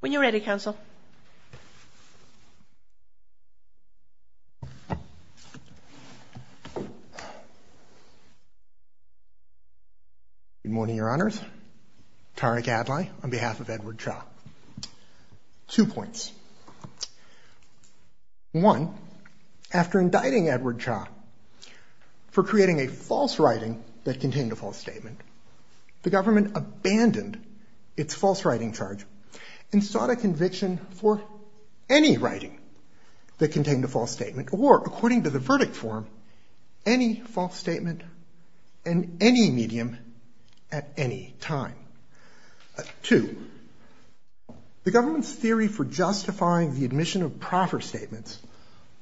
When you're ready, counsel. Good morning, Your Honors. Tariq Adlai on behalf of Edward Cha. Two points. One, after indicting Edward Cha for creating a false writing that contained a false statement, the government abandoned its false writing charge and sought a conviction for any writing that contained a false statement or, according to the verdict form, any false statement in any medium at any time. Two, the government's theory for justifying the admission of proper statements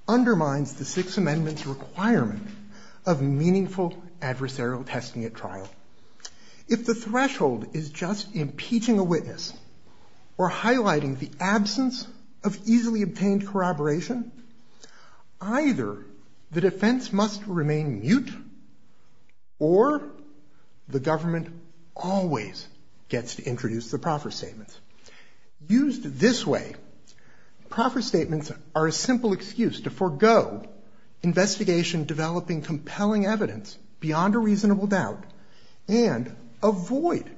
undermines the Sixth Amendment's requirement of meaningful adversarial testing at trial. If the threshold is just impeaching a witness or highlighting the absence of easily obtained corroboration, either the defense must remain mute or the government always gets to introduce the proper statements. Used this way, proper statements are a simple excuse to forego investigation developing compelling evidence beyond a reasonable doubt and avoid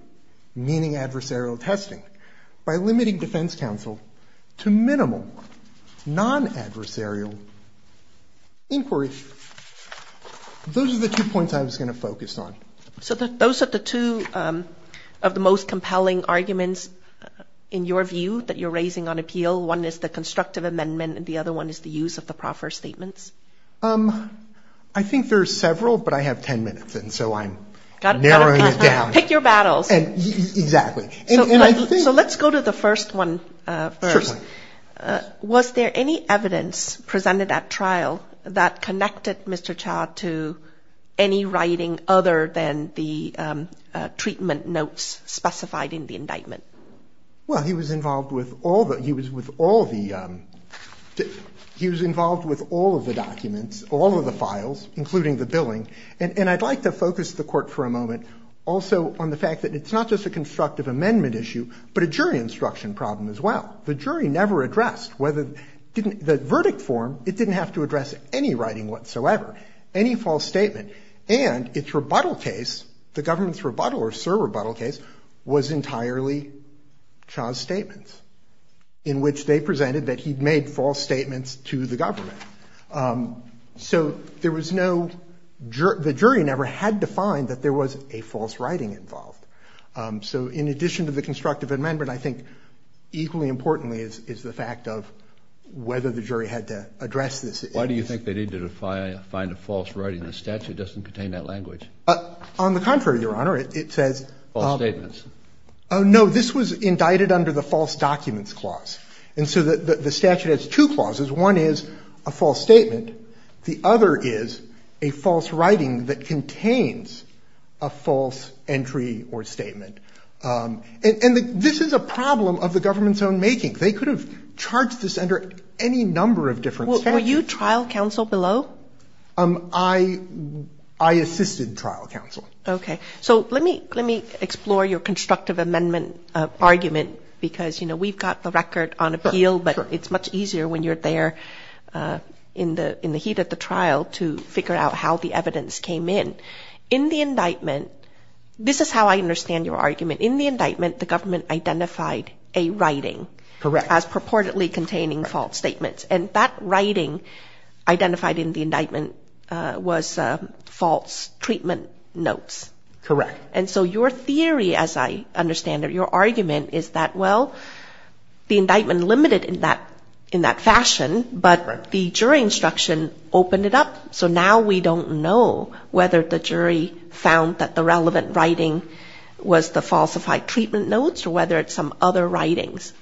meaning adversarial testing by limiting defense counsel to minimal non-adversarial inquiry. Those are the two points I was going to focus on. So those are the two of the most compelling arguments in your view that you're raising on appeal. One is the constructive amendment and the other one is the use of the proper statements. I think there's several, but I have ten minutes and so I'm narrowing it down. Pick your battles. Exactly. So let's go to the first one first. Was there any evidence presented at trial that connected Mr. Cha to any writing other than the treatment notes specified in the indictment? Well, he was involved with all the, he was with all the, he was involved with all of the documents, all of the files, including the billing. And I'd like to focus the court for a moment also on the fact that it's not just a constructive amendment issue, but a jury instruction problem as well. The jury never addressed whether, the verdict form, it didn't have to address any writing whatsoever, any false statement. And its rebuttal case, the government's rebuttal or serve rebuttal case, was entirely Cha's statements in which they presented that he'd made false statements to the government. So there was no, the jury never had to find that there was a false writing involved. So in addition to the constructive amendment, I think equally importantly is the fact of whether the jury had to address this. Why do you think they need to find a false writing in the statute that doesn't contain that language? On the contrary, Your Honor, it says... False statements. Oh no, this was indicted under the false documents clause. And so the statute has two clauses. One is a false statement. The other is a false writing that contains a false entry or statement. And this is a problem of the government's own making. They could have charged this under any number of different statements. Were you trial counsel below? I assisted trial counsel. Okay. So let me explore your constructive amendment argument because, you know, we've got the record on appeal, but it's much easier when you're there in the heat of the trial to figure out how the evidence came in. In the indictment, this is how I understand your argument. In the indictment, the government identified a writing as purportedly containing false statements. And that writing identified in the indictment was false treatment notes. Correct. And so your theory, as I understand it, your argument is that, well, the indictment limited in that fashion, but the jury instruction opened it up, so now we don't know whether the jury found that the relevant writing was the falsified treatment notes or whether it's some other writings.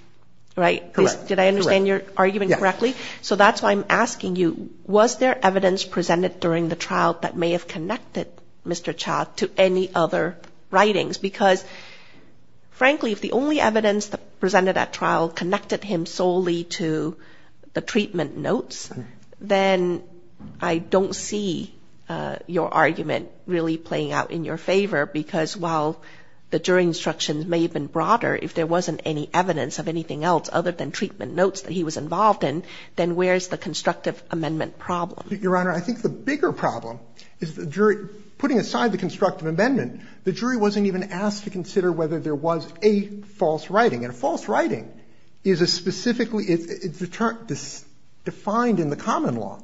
Right? Correct. Did I understand your argument correctly? Yes. So that's why I'm asking you, was there evidence presented during the trial that may have connected Mr. Cha to any other writings? Because, frankly, if the only evidence presented at trial connected him solely to the treatment notes, then I don't see your argument really playing out in your favor because, while the jury instructions may have been broader, if there were no written treatment notes that he was involved in, then where's the constructive amendment problem? Your Honor, I think the bigger problem is the jury, putting aside the constructive amendment, the jury wasn't even asked to consider whether there was a false writing. And a false writing is a specifically, it's defined in the common law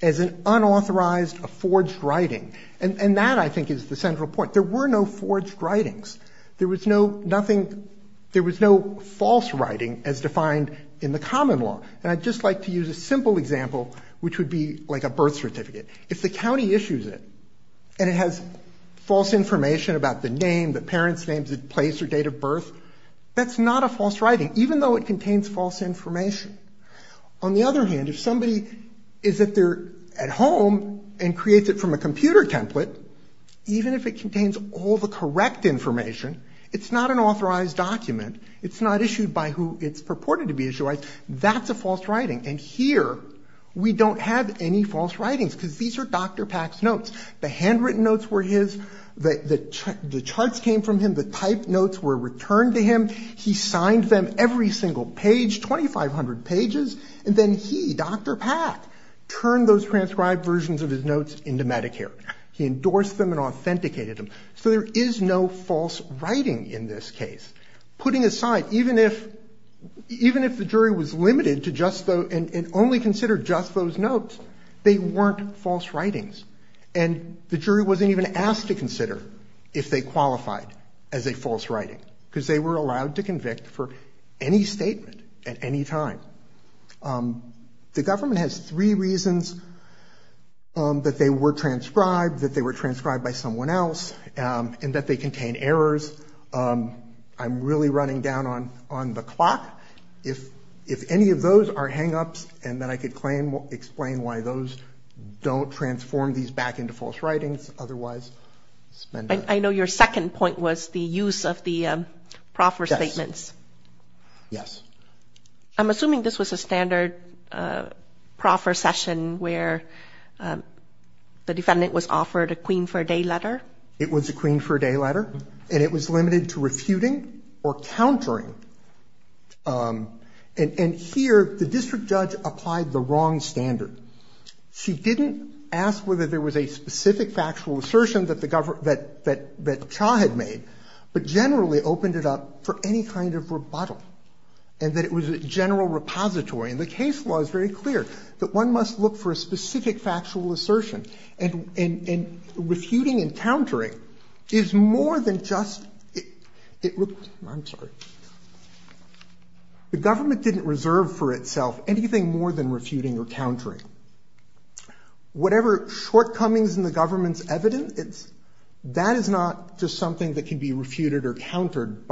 as an unauthorized, a forged writing. And that, I think, is the central point. There were no forged writings. There was no nothing, there was no false writing as defined in the common law. And I'd just like to use a simple example, which would be like a birth certificate. If the county issues it and it has false information about the name, the parent's name, the place or date of birth, that's not a false writing, even though it contains false information. On the other hand, if somebody is at their, at home and creates it from a false information, it's not an authorized document, it's not issued by who it's purported to be issued by, that's a false writing. And here, we don't have any false writings, because these are Dr. Pack's notes. The handwritten notes were his, the charts came from him, the typed notes were returned to him, he signed them every single page, 2,500 pages, and then he, Dr. Pack, turned those transcribed versions of his notes into Medicare. He endorsed them and authenticated them. So there is no false writing in this case. Putting aside, even if the jury was limited to just those, and only considered just those notes, they weren't false writings. And the jury wasn't even asked to consider if they qualified as a false writing, because they were allowed to convict for any statement at any time. The government has three reasons that they were transcribed, that they were falsified, and that they contain errors. I'm really running down on the clock. If any of those are hang-ups, and then I could explain why those don't transform these back into false writings, otherwise... I know your second point was the use of the proffer statements. Yes. I'm assuming this was a standard proffer session where the defendant was subpoenaed for a day letter, and it was limited to refuting or countering. And here, the district judge applied the wrong standard. She didn't ask whether there was a specific factual assertion that the government, that Cha had made, but generally opened it up for any kind of rebuttal, and that it was a general repository. And the case law is very clear, that one must look for a specific factual assertion, and refuting and countering is more than just... I'm sorry. The government didn't reserve for itself anything more than refuting or countering. Whatever shortcomings in the government's evidence, that is not just something that can be refuted or countered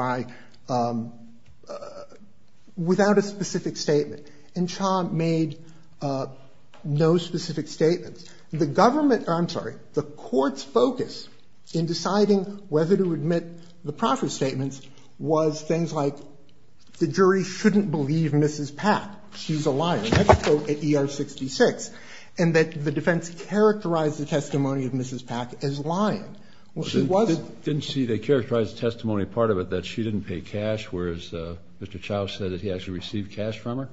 without a specific statement. And Cha made no specific statements. The government, I'm sorry, the Court's focus in deciding whether to admit the proffer statements was things like the jury shouldn't believe Mrs. Pack. She's a liar. That's a quote at ER 66. And that the defense characterized the testimony of Mrs. Pack as lying. Well, she wasn't. Didn't she? They characterized the testimony, part of it, that she didn't pay cash, whereas Mr. Chow said that he actually received cash from her?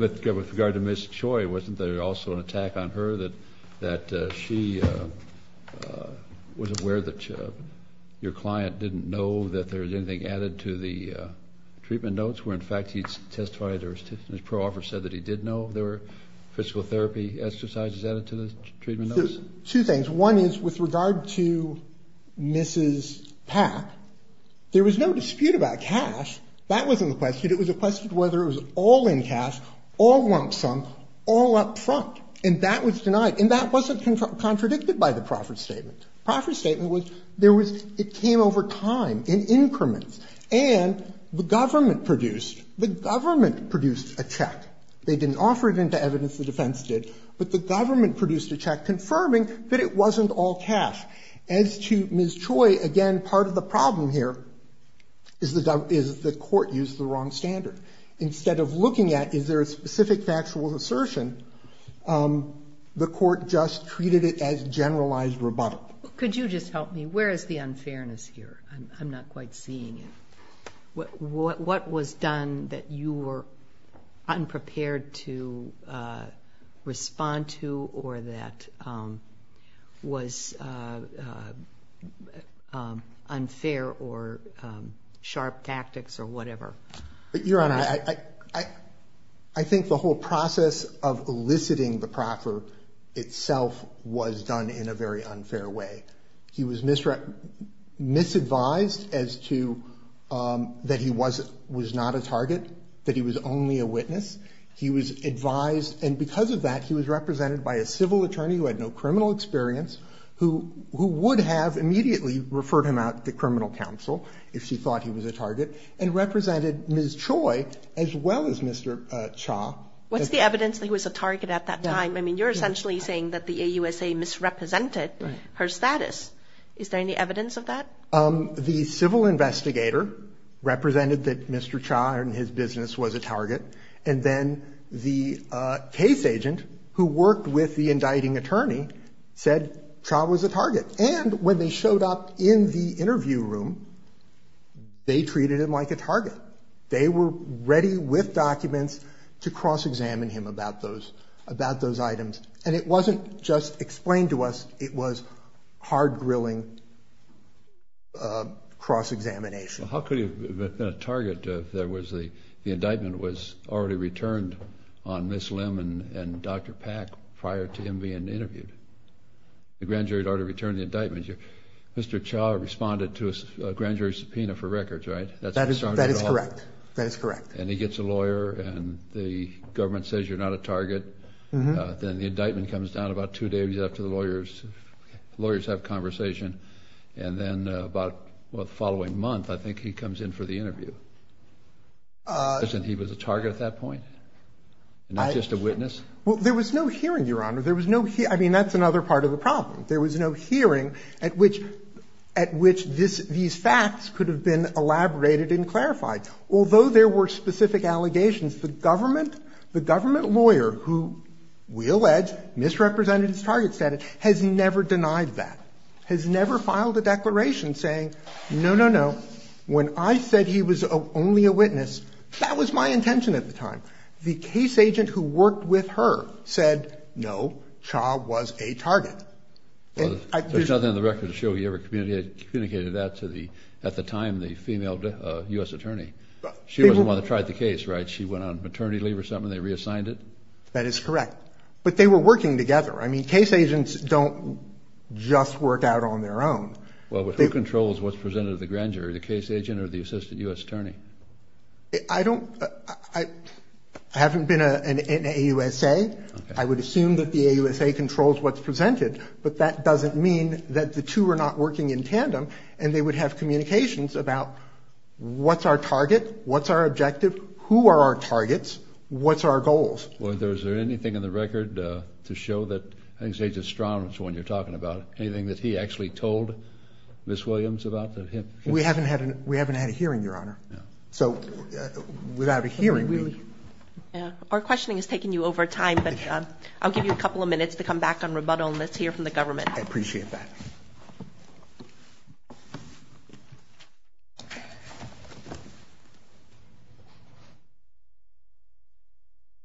With regard to Ms. Choi, wasn't there also an attack on her that she was aware that your client didn't know that there was anything added to the treatment notes, where in fact he testified or his proffer said that he did know there were physical therapy exercises added to the treatment notes? Two things. One is with regard to Mrs. Pack, there was no dispute about cash. That wasn't the question. It was a question of whether it was all in cash, all lump sum, all up front. And that was denied. And that wasn't contradicted by the proffer statement. The proffer statement was there was, it came over time in increments. And the government produced, the government produced a check. They didn't offer it into evidence, the defense did. But the government produced a check confirming that it wasn't all cash. As to Ms. Choi, again, part of the problem here is the court used the wrong standard. Instead of looking at is there a specific factual assertion, the court just treated it as generalized rebuttal. Could you just help me? Where is the unfairness here? I'm not quite seeing it. What was done that you were unprepared to respond to or that was unfair or sharp tactics or whatever? Your Honor, I think the whole process of eliciting the proffer itself was done in a very unfair way. He was misadvised as to that he was not a target, that he was only a witness. He was advised, and because of that, he was represented by a civil attorney who had no criminal experience, who would have immediately referred him out to criminal counsel if she thought he was a target, and represented Ms. Choi as well as Mr. Cha. What's the evidence that he was a target at that time? I mean, you're essentially saying that the AUSA misrepresented her status. Is there any evidence of that? The civil investigator represented that Mr. Cha and his business was a target, and then the case agent who worked with the indicting attorney said Cha was a target. And when they showed up in the interview room, they treated him like a target. They were ready with documents to cross-examine him about those items. And it wasn't just explained to us. It was hard-grilling cross-examination. Well, how could he have been a target if the indictment was already returned on Ms. Lim and Dr. Pack prior to him being interviewed? The grand jury had already returned the indictment. Mr. Cha responded to a grand jury subpoena for records, right? That is correct. That is correct. And he gets a lawyer, and the government says you're not a target. Then the indictment comes down about two days after the lawyers have conversation. And then about the following month, I think, he comes in for the interview. Isn't he was a target at that point? Not just a witness? Well, there was no hearing, Your Honor. There was no hearing. I mean, that's another part of the problem. There was no hearing at which these facts could have been elaborated and clarified. Although there were specific allegations, the government, the government lawyer, who we allege misrepresented his target status, has never denied that, has never filed a declaration saying, no, no, no, when I said he was only a witness, that was my intention at the time. The case agent who worked with her said, no, Cha was a target. Well, there's nothing in the record to show you ever communicated that to the, at the time, the female U.S. attorney. She wasn't the one that tried the case, right? She went on maternity leave or something, and they reassigned it? That is correct. But they were working together. I mean, case agents don't just work out on their own. Well, but who controls what's presented to the grand jury, the case agent or the assistant U.S. attorney? I don't, I haven't been in an AUSA. I would assume that the AUSA controls what's presented. But that doesn't mean that the two are not working in tandem. And they would have communications about what's our target? What's our objective? Who are our targets? What's our goals? Well, is there anything in the record to show that, I think it's Agent Strong, that's the one you're talking about. Anything that he actually told Ms. Williams about him? We haven't had a hearing, Your Honor. So without a hearing, really. Our questioning is taking you over time. But I'll give you a couple of minutes to come back on rebuttal, and let's hear from the government. I appreciate that.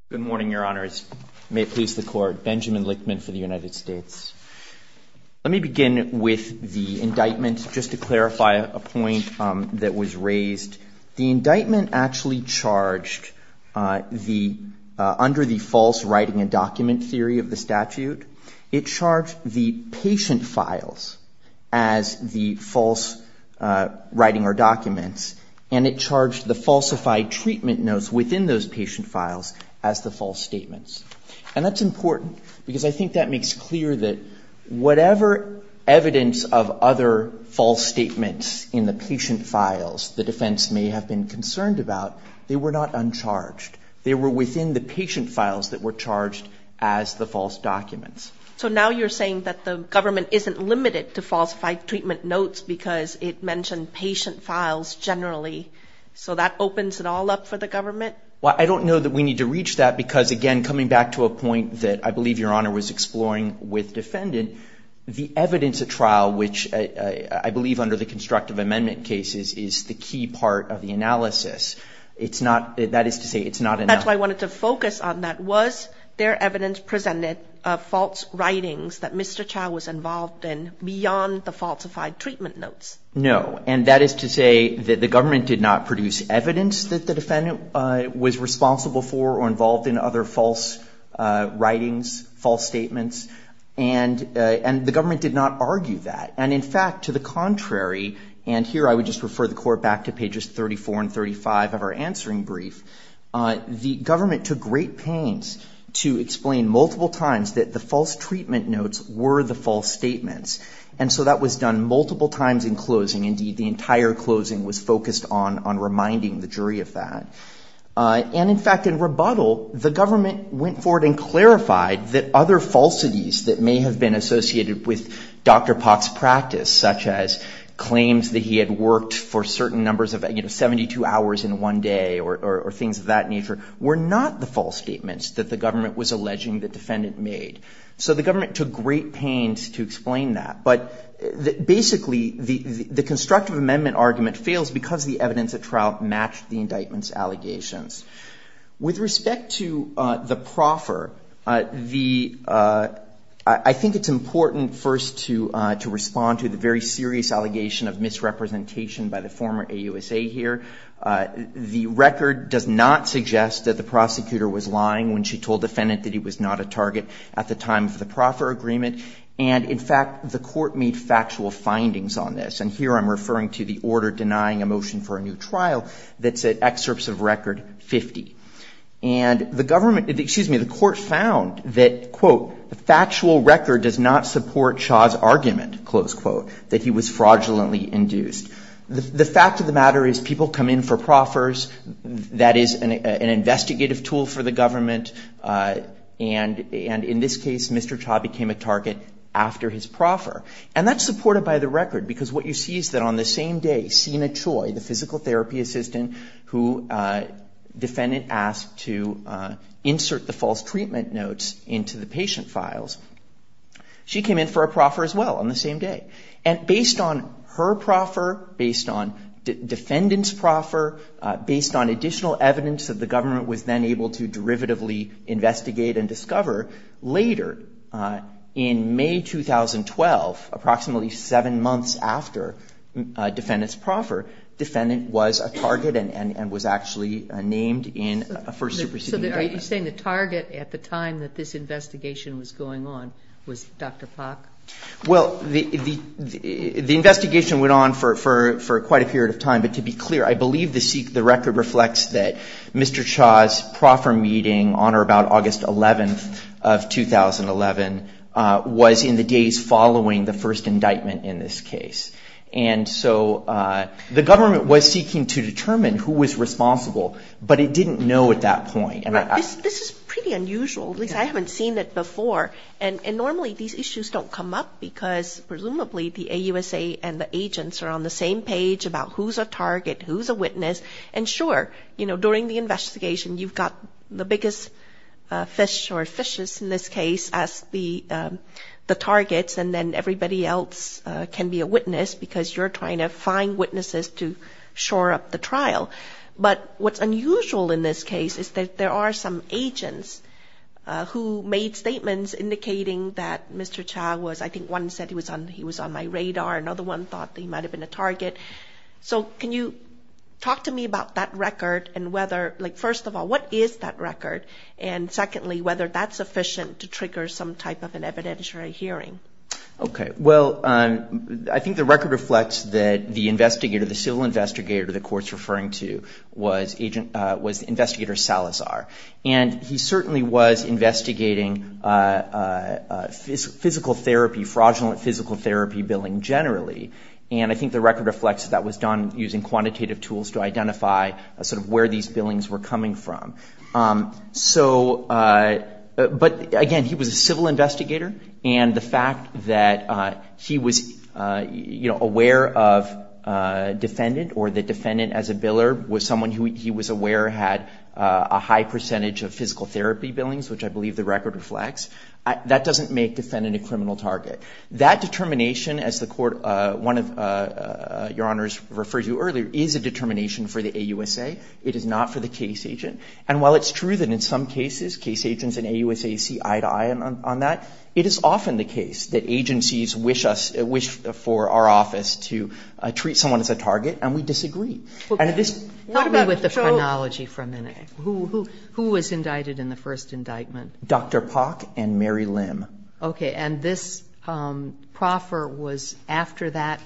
Good morning, Your Honors. May it please the Court. Benjamin Lichtman for the United States. Let me begin with the indictment, just to clarify a point that was raised. The indictment actually charged the, under the false writing and document theory of the statute, it charged the patient files as the false writing or documents, and it charged the falsified treatment notes within those patient files as the false statements. And that's important because I think that makes clear that whatever evidence of other false statements in the patient files the defense may have been concerned about, they were not uncharged. They were within the patient files that were charged as the false documents. So now you're saying that the government isn't limited to falsified treatment notes because it mentioned patient files generally. So that opens it all up for the government? Well, I don't know that we need to reach that because, again, coming back to a point that I believe Your Honor was exploring with defendant, the evidence at trial, which I believe under the constructive amendment cases, is the key part of the analysis. It's not, that is to say, it's not enough. That's why I wanted to focus on that. Was there evidence presented of false writings that Mr. Chao was involved in beyond the falsified treatment notes? No. And that is to say that the government did not produce evidence that the defendant was responsible for or involved in other false writings, false statements. And the government did not argue that. And, in fact, to the contrary, and here I would just refer the Court back to pages 34 and 35 of our answering brief, the government took great pains to explain multiple times that the false treatment notes were the false statements. And so that was done multiple times in closing. Indeed, the entire closing was focused on reminding the jury of that. And, in fact, in rebuttal, the government went forward and clarified that other falsities that may have been associated with Dr. Pak's practice, such as claims that he had worked for certain numbers of, you know, 72 hours in one day or things of that nature, were not the false statements that the government was alleging the defendant made. So the government took great pains to explain that. But basically, the constructive amendment argument fails because the evidence at trial matched the indictment's allegations. With respect to the proffer, I think it's important first to respond to the very serious allegation of misrepresentation by the former AUSA here. The record does not suggest that the prosecutor was lying when she told the defendant that he was not a target at the time of the proffer agreement. And, in fact, the Court made factual findings on this. And here I'm referring to the order denying a motion for a new trial that said excerpts of record 50. And the government — excuse me, the Court found that, quote, the factual record does not support Shah's argument, close quote, that he was fraudulently induced. The fact of the matter is people come in for proffers. That is an investigative tool for the government. And in this case, Mr. Shah became a target after his proffer. And that's supported by the record because what you see is that on the same day, Sina Choi, the physical therapy assistant, who defendant asked to insert the false treatment notes into the patient files, she came in for a proffer as well on the same day. And based on her proffer, based on defendant's proffer, based on additional evidence that the government was then able to derivatively investigate and discover, later, in May 2012, approximately seven months after defendant's proffer, defendant was a target and was actually named in a first-degree proceeding. So you're saying the target at the time that this investigation was going on was Dr. Pak? Well, the investigation went on for quite a period of time. But to be clear, I believe the record reflects that Mr. Shah's proffer meeting on or about August 11th of 2011 was in the days following the first indictment in this case. And so the government was seeking to determine who was responsible, but it didn't know at that point. This is pretty unusual. At least I haven't seen it before. And normally these issues don't come up because presumably the AUSA and the agents are on the same page about who's a target, who's a witness. And sure, you know, during the investigation, you've got the biggest fish or fishes in this case as the targets, and then everybody else can be a witness because you're trying to find witnesses to shore up the trial. But what's unusual in this case is that there are some agents who made statements indicating that Mr. Shah was, I think one said he was on my radar, another one thought that he might have been a target. So can you talk to me about that record and whether, like, first of all, what is that record? And secondly, whether that's sufficient to trigger some type of an evidentiary hearing. Okay. Well, I think the record reflects that the investigator, the civil investigator, the court's referring to was investigator Salazar. And he certainly was investigating physical therapy, fraudulent physical therapy billing generally. And I think the record reflects that that was done using quantitative tools to identify sort of where these billings were coming from. So, but again, he was a civil investigator, and the fact that he was, you know, aware of defendant or the defendant as a biller was someone who he was aware had a high percentage of physical therapy billings, which I believe the record reflects, that doesn't make defendant a criminal target. That determination, as the court, one of your honors referred to earlier, is a determination for the AUSA. It is not for the case agent. And while it's true that in some cases case agents in AUSA see eye to eye on that, it is often the case that agencies wish us, wish for our office to treat someone as a target, and we disagree. Help me with the chronology for a minute. Who was indicted in the first indictment? Dr. Pock and Mary Lim. Okay. And this proffer was after that?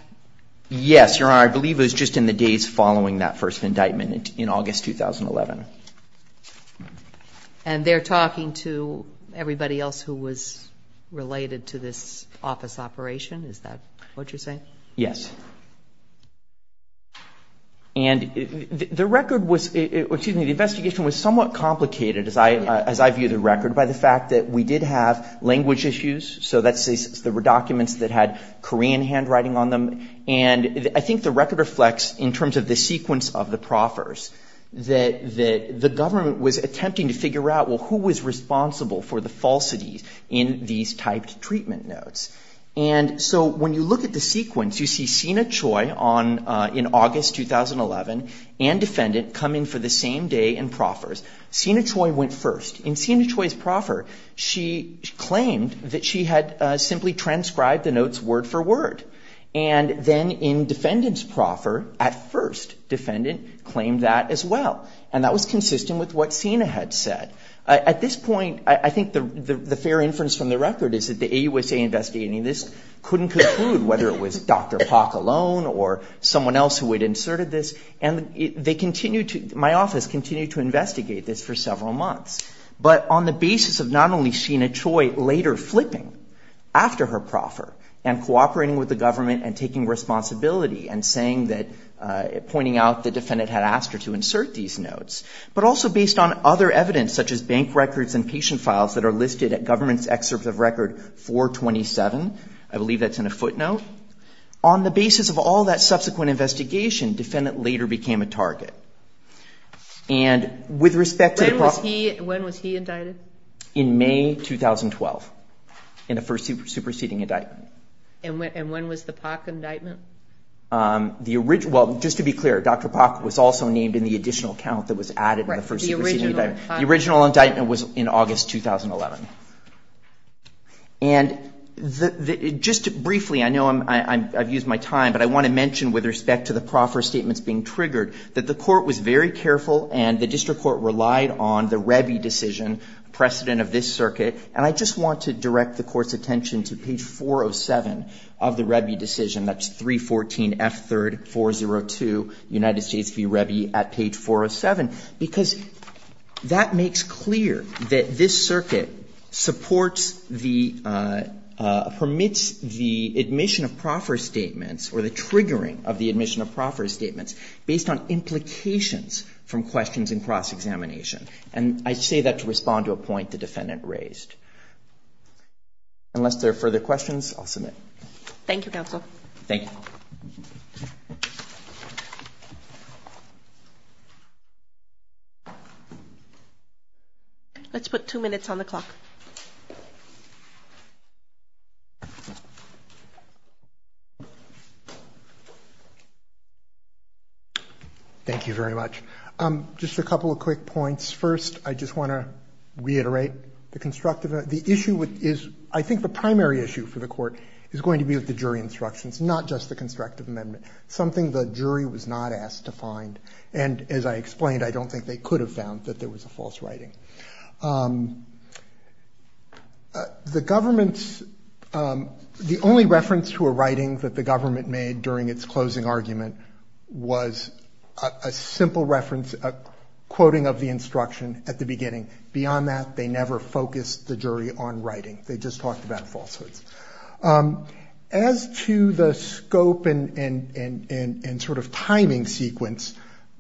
Yes, Your Honor. I believe it was just in the days following that first indictment in August 2011. And they're talking to everybody else who was related to this office operation? Is that what you're saying? Yes. And the record was, excuse me, the investigation was somewhat complicated, as I view the record, by the fact that we did have language issues. So that's the documents that had Korean handwriting on them. And I think the record reflects, in terms of the sequence of the proffers, that the government was attempting to figure out, well, who was responsible for the falsities in these typed treatment notes. And so when you look at the sequence, you see Sina Choi in August 2011 and defendant coming for the same day in proffers. Sina Choi went first. In Sina Choi's proffer, she claimed that she had simply transcribed the notes word for word. And then in defendant's proffer, at first, defendant claimed that as well. And that was consistent with what Sina had said. At this point, I think the fair inference from the record is that the AUSA investigating this couldn't conclude whether it was Dr. Pak alone or someone else who had inserted this. And they continued to – my office continued to investigate this for several months. But on the basis of not only Sina Choi later flipping after her proffer and cooperating with the government and taking responsibility and saying that – pointing out the defendant had asked her to insert these notes, but also based on other evidence such as bank records and patient files that are listed at government's excerpt of record 427 – I believe that's in a footnote – on the basis of all that subsequent investigation, defendant later became a target. And with respect to the – When was he – when was he indicted? In May 2012 in the first superseding indictment. And when was the Pak indictment? The – well, just to be clear, Dr. Pak was also named in the additional count that was added in the first superseding indictment. The original indictment was in August 2011. And just briefly, I know I've used my time, but I want to mention with respect to the proffer statements being triggered that the court was very careful and the district court relied on the Rebbi decision precedent of this circuit. And I just want to direct the court's attention to page 407 of the Rebbi decision. That's 314F3-402, United States v. Rebbi at page 407. Because that makes clear that this circuit supports the – permits the admission of proffer statements or the triggering of the admission of proffer statements based on implications from questions in cross-examination. And I say that to respond to a point the defendant raised. Unless there are further questions, I'll submit. Thank you, counsel. Thank you. Thank you, counsel. Let's put two minutes on the clock. Thank you very much. Just a couple of quick points. First, I just want to reiterate the constructive – the issue is I think the primary issue for the court is going to be with the jury instructions, not just the constructive amendment, something the jury was not asked to find. And as I explained, I don't think they could have found that there was a false writing. The government's – the only reference to a writing that the government made during its closing argument was a simple reference, a quoting of the instruction at the beginning. Beyond that, they never focused the jury on writing. They just talked about falsehoods. As to the scope and sort of timing sequence,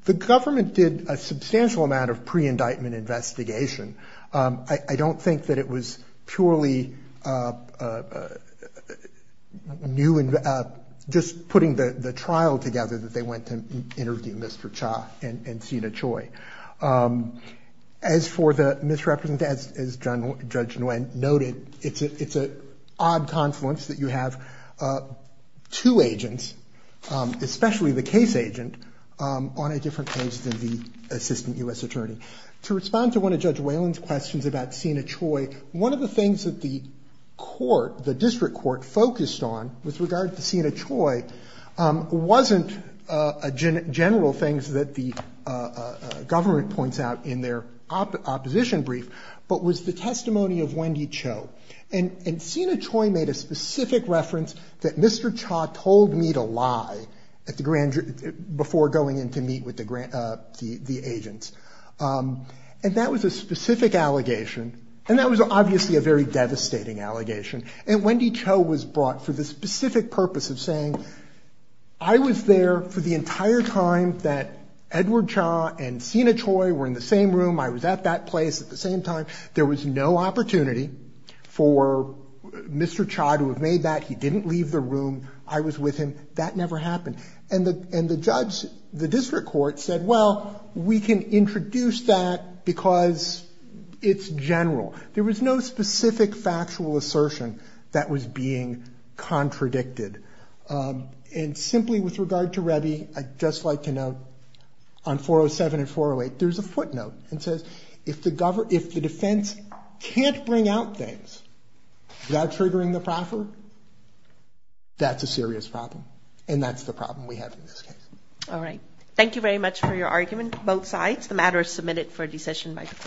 the government did a substantial amount of pre-indictment investigation. I don't think that it was purely new – just putting the trial together that they went to interview Mr. Cha and Sina Choi. As for the misrepresentation, as Judge Nguyen noted, it's an odd confluence that you have two agents, especially the case agent, on a different case than the assistant U.S. attorney. To respond to one of Judge Whalen's questions about Sina Choi, one of the things that the court, the district court, focused on with regard to Sina Choi wasn't general things that the government points out in their opposition brief, but was the testimony of Wendy Cho. Sina Choi made a specific reference that Mr. Cha told me to lie before going in to meet with the agents. That was a specific allegation. That was obviously a very devastating allegation. Wendy Cho was brought for the specific purpose of saying, I was there for the entire time that Edward Cha and Sina Choi were in the same room. I was at that place at the same time. There was no opportunity for Mr. Cha to have made that. He didn't leave the room. I was with him. That never happened. And the judge, the district court, said, well, we can introduce that because it's general. There was no specific factual assertion that was being contradicted. And simply with regard to Rebbi, I'd just like to note on 407 and 408, there's a footnote that says if the defense can't bring out things without triggering the proffer, that's a serious problem. And that's the problem we have in this case. All right. Thank you very much for your argument, both sides. The matter is submitted for decision by the court.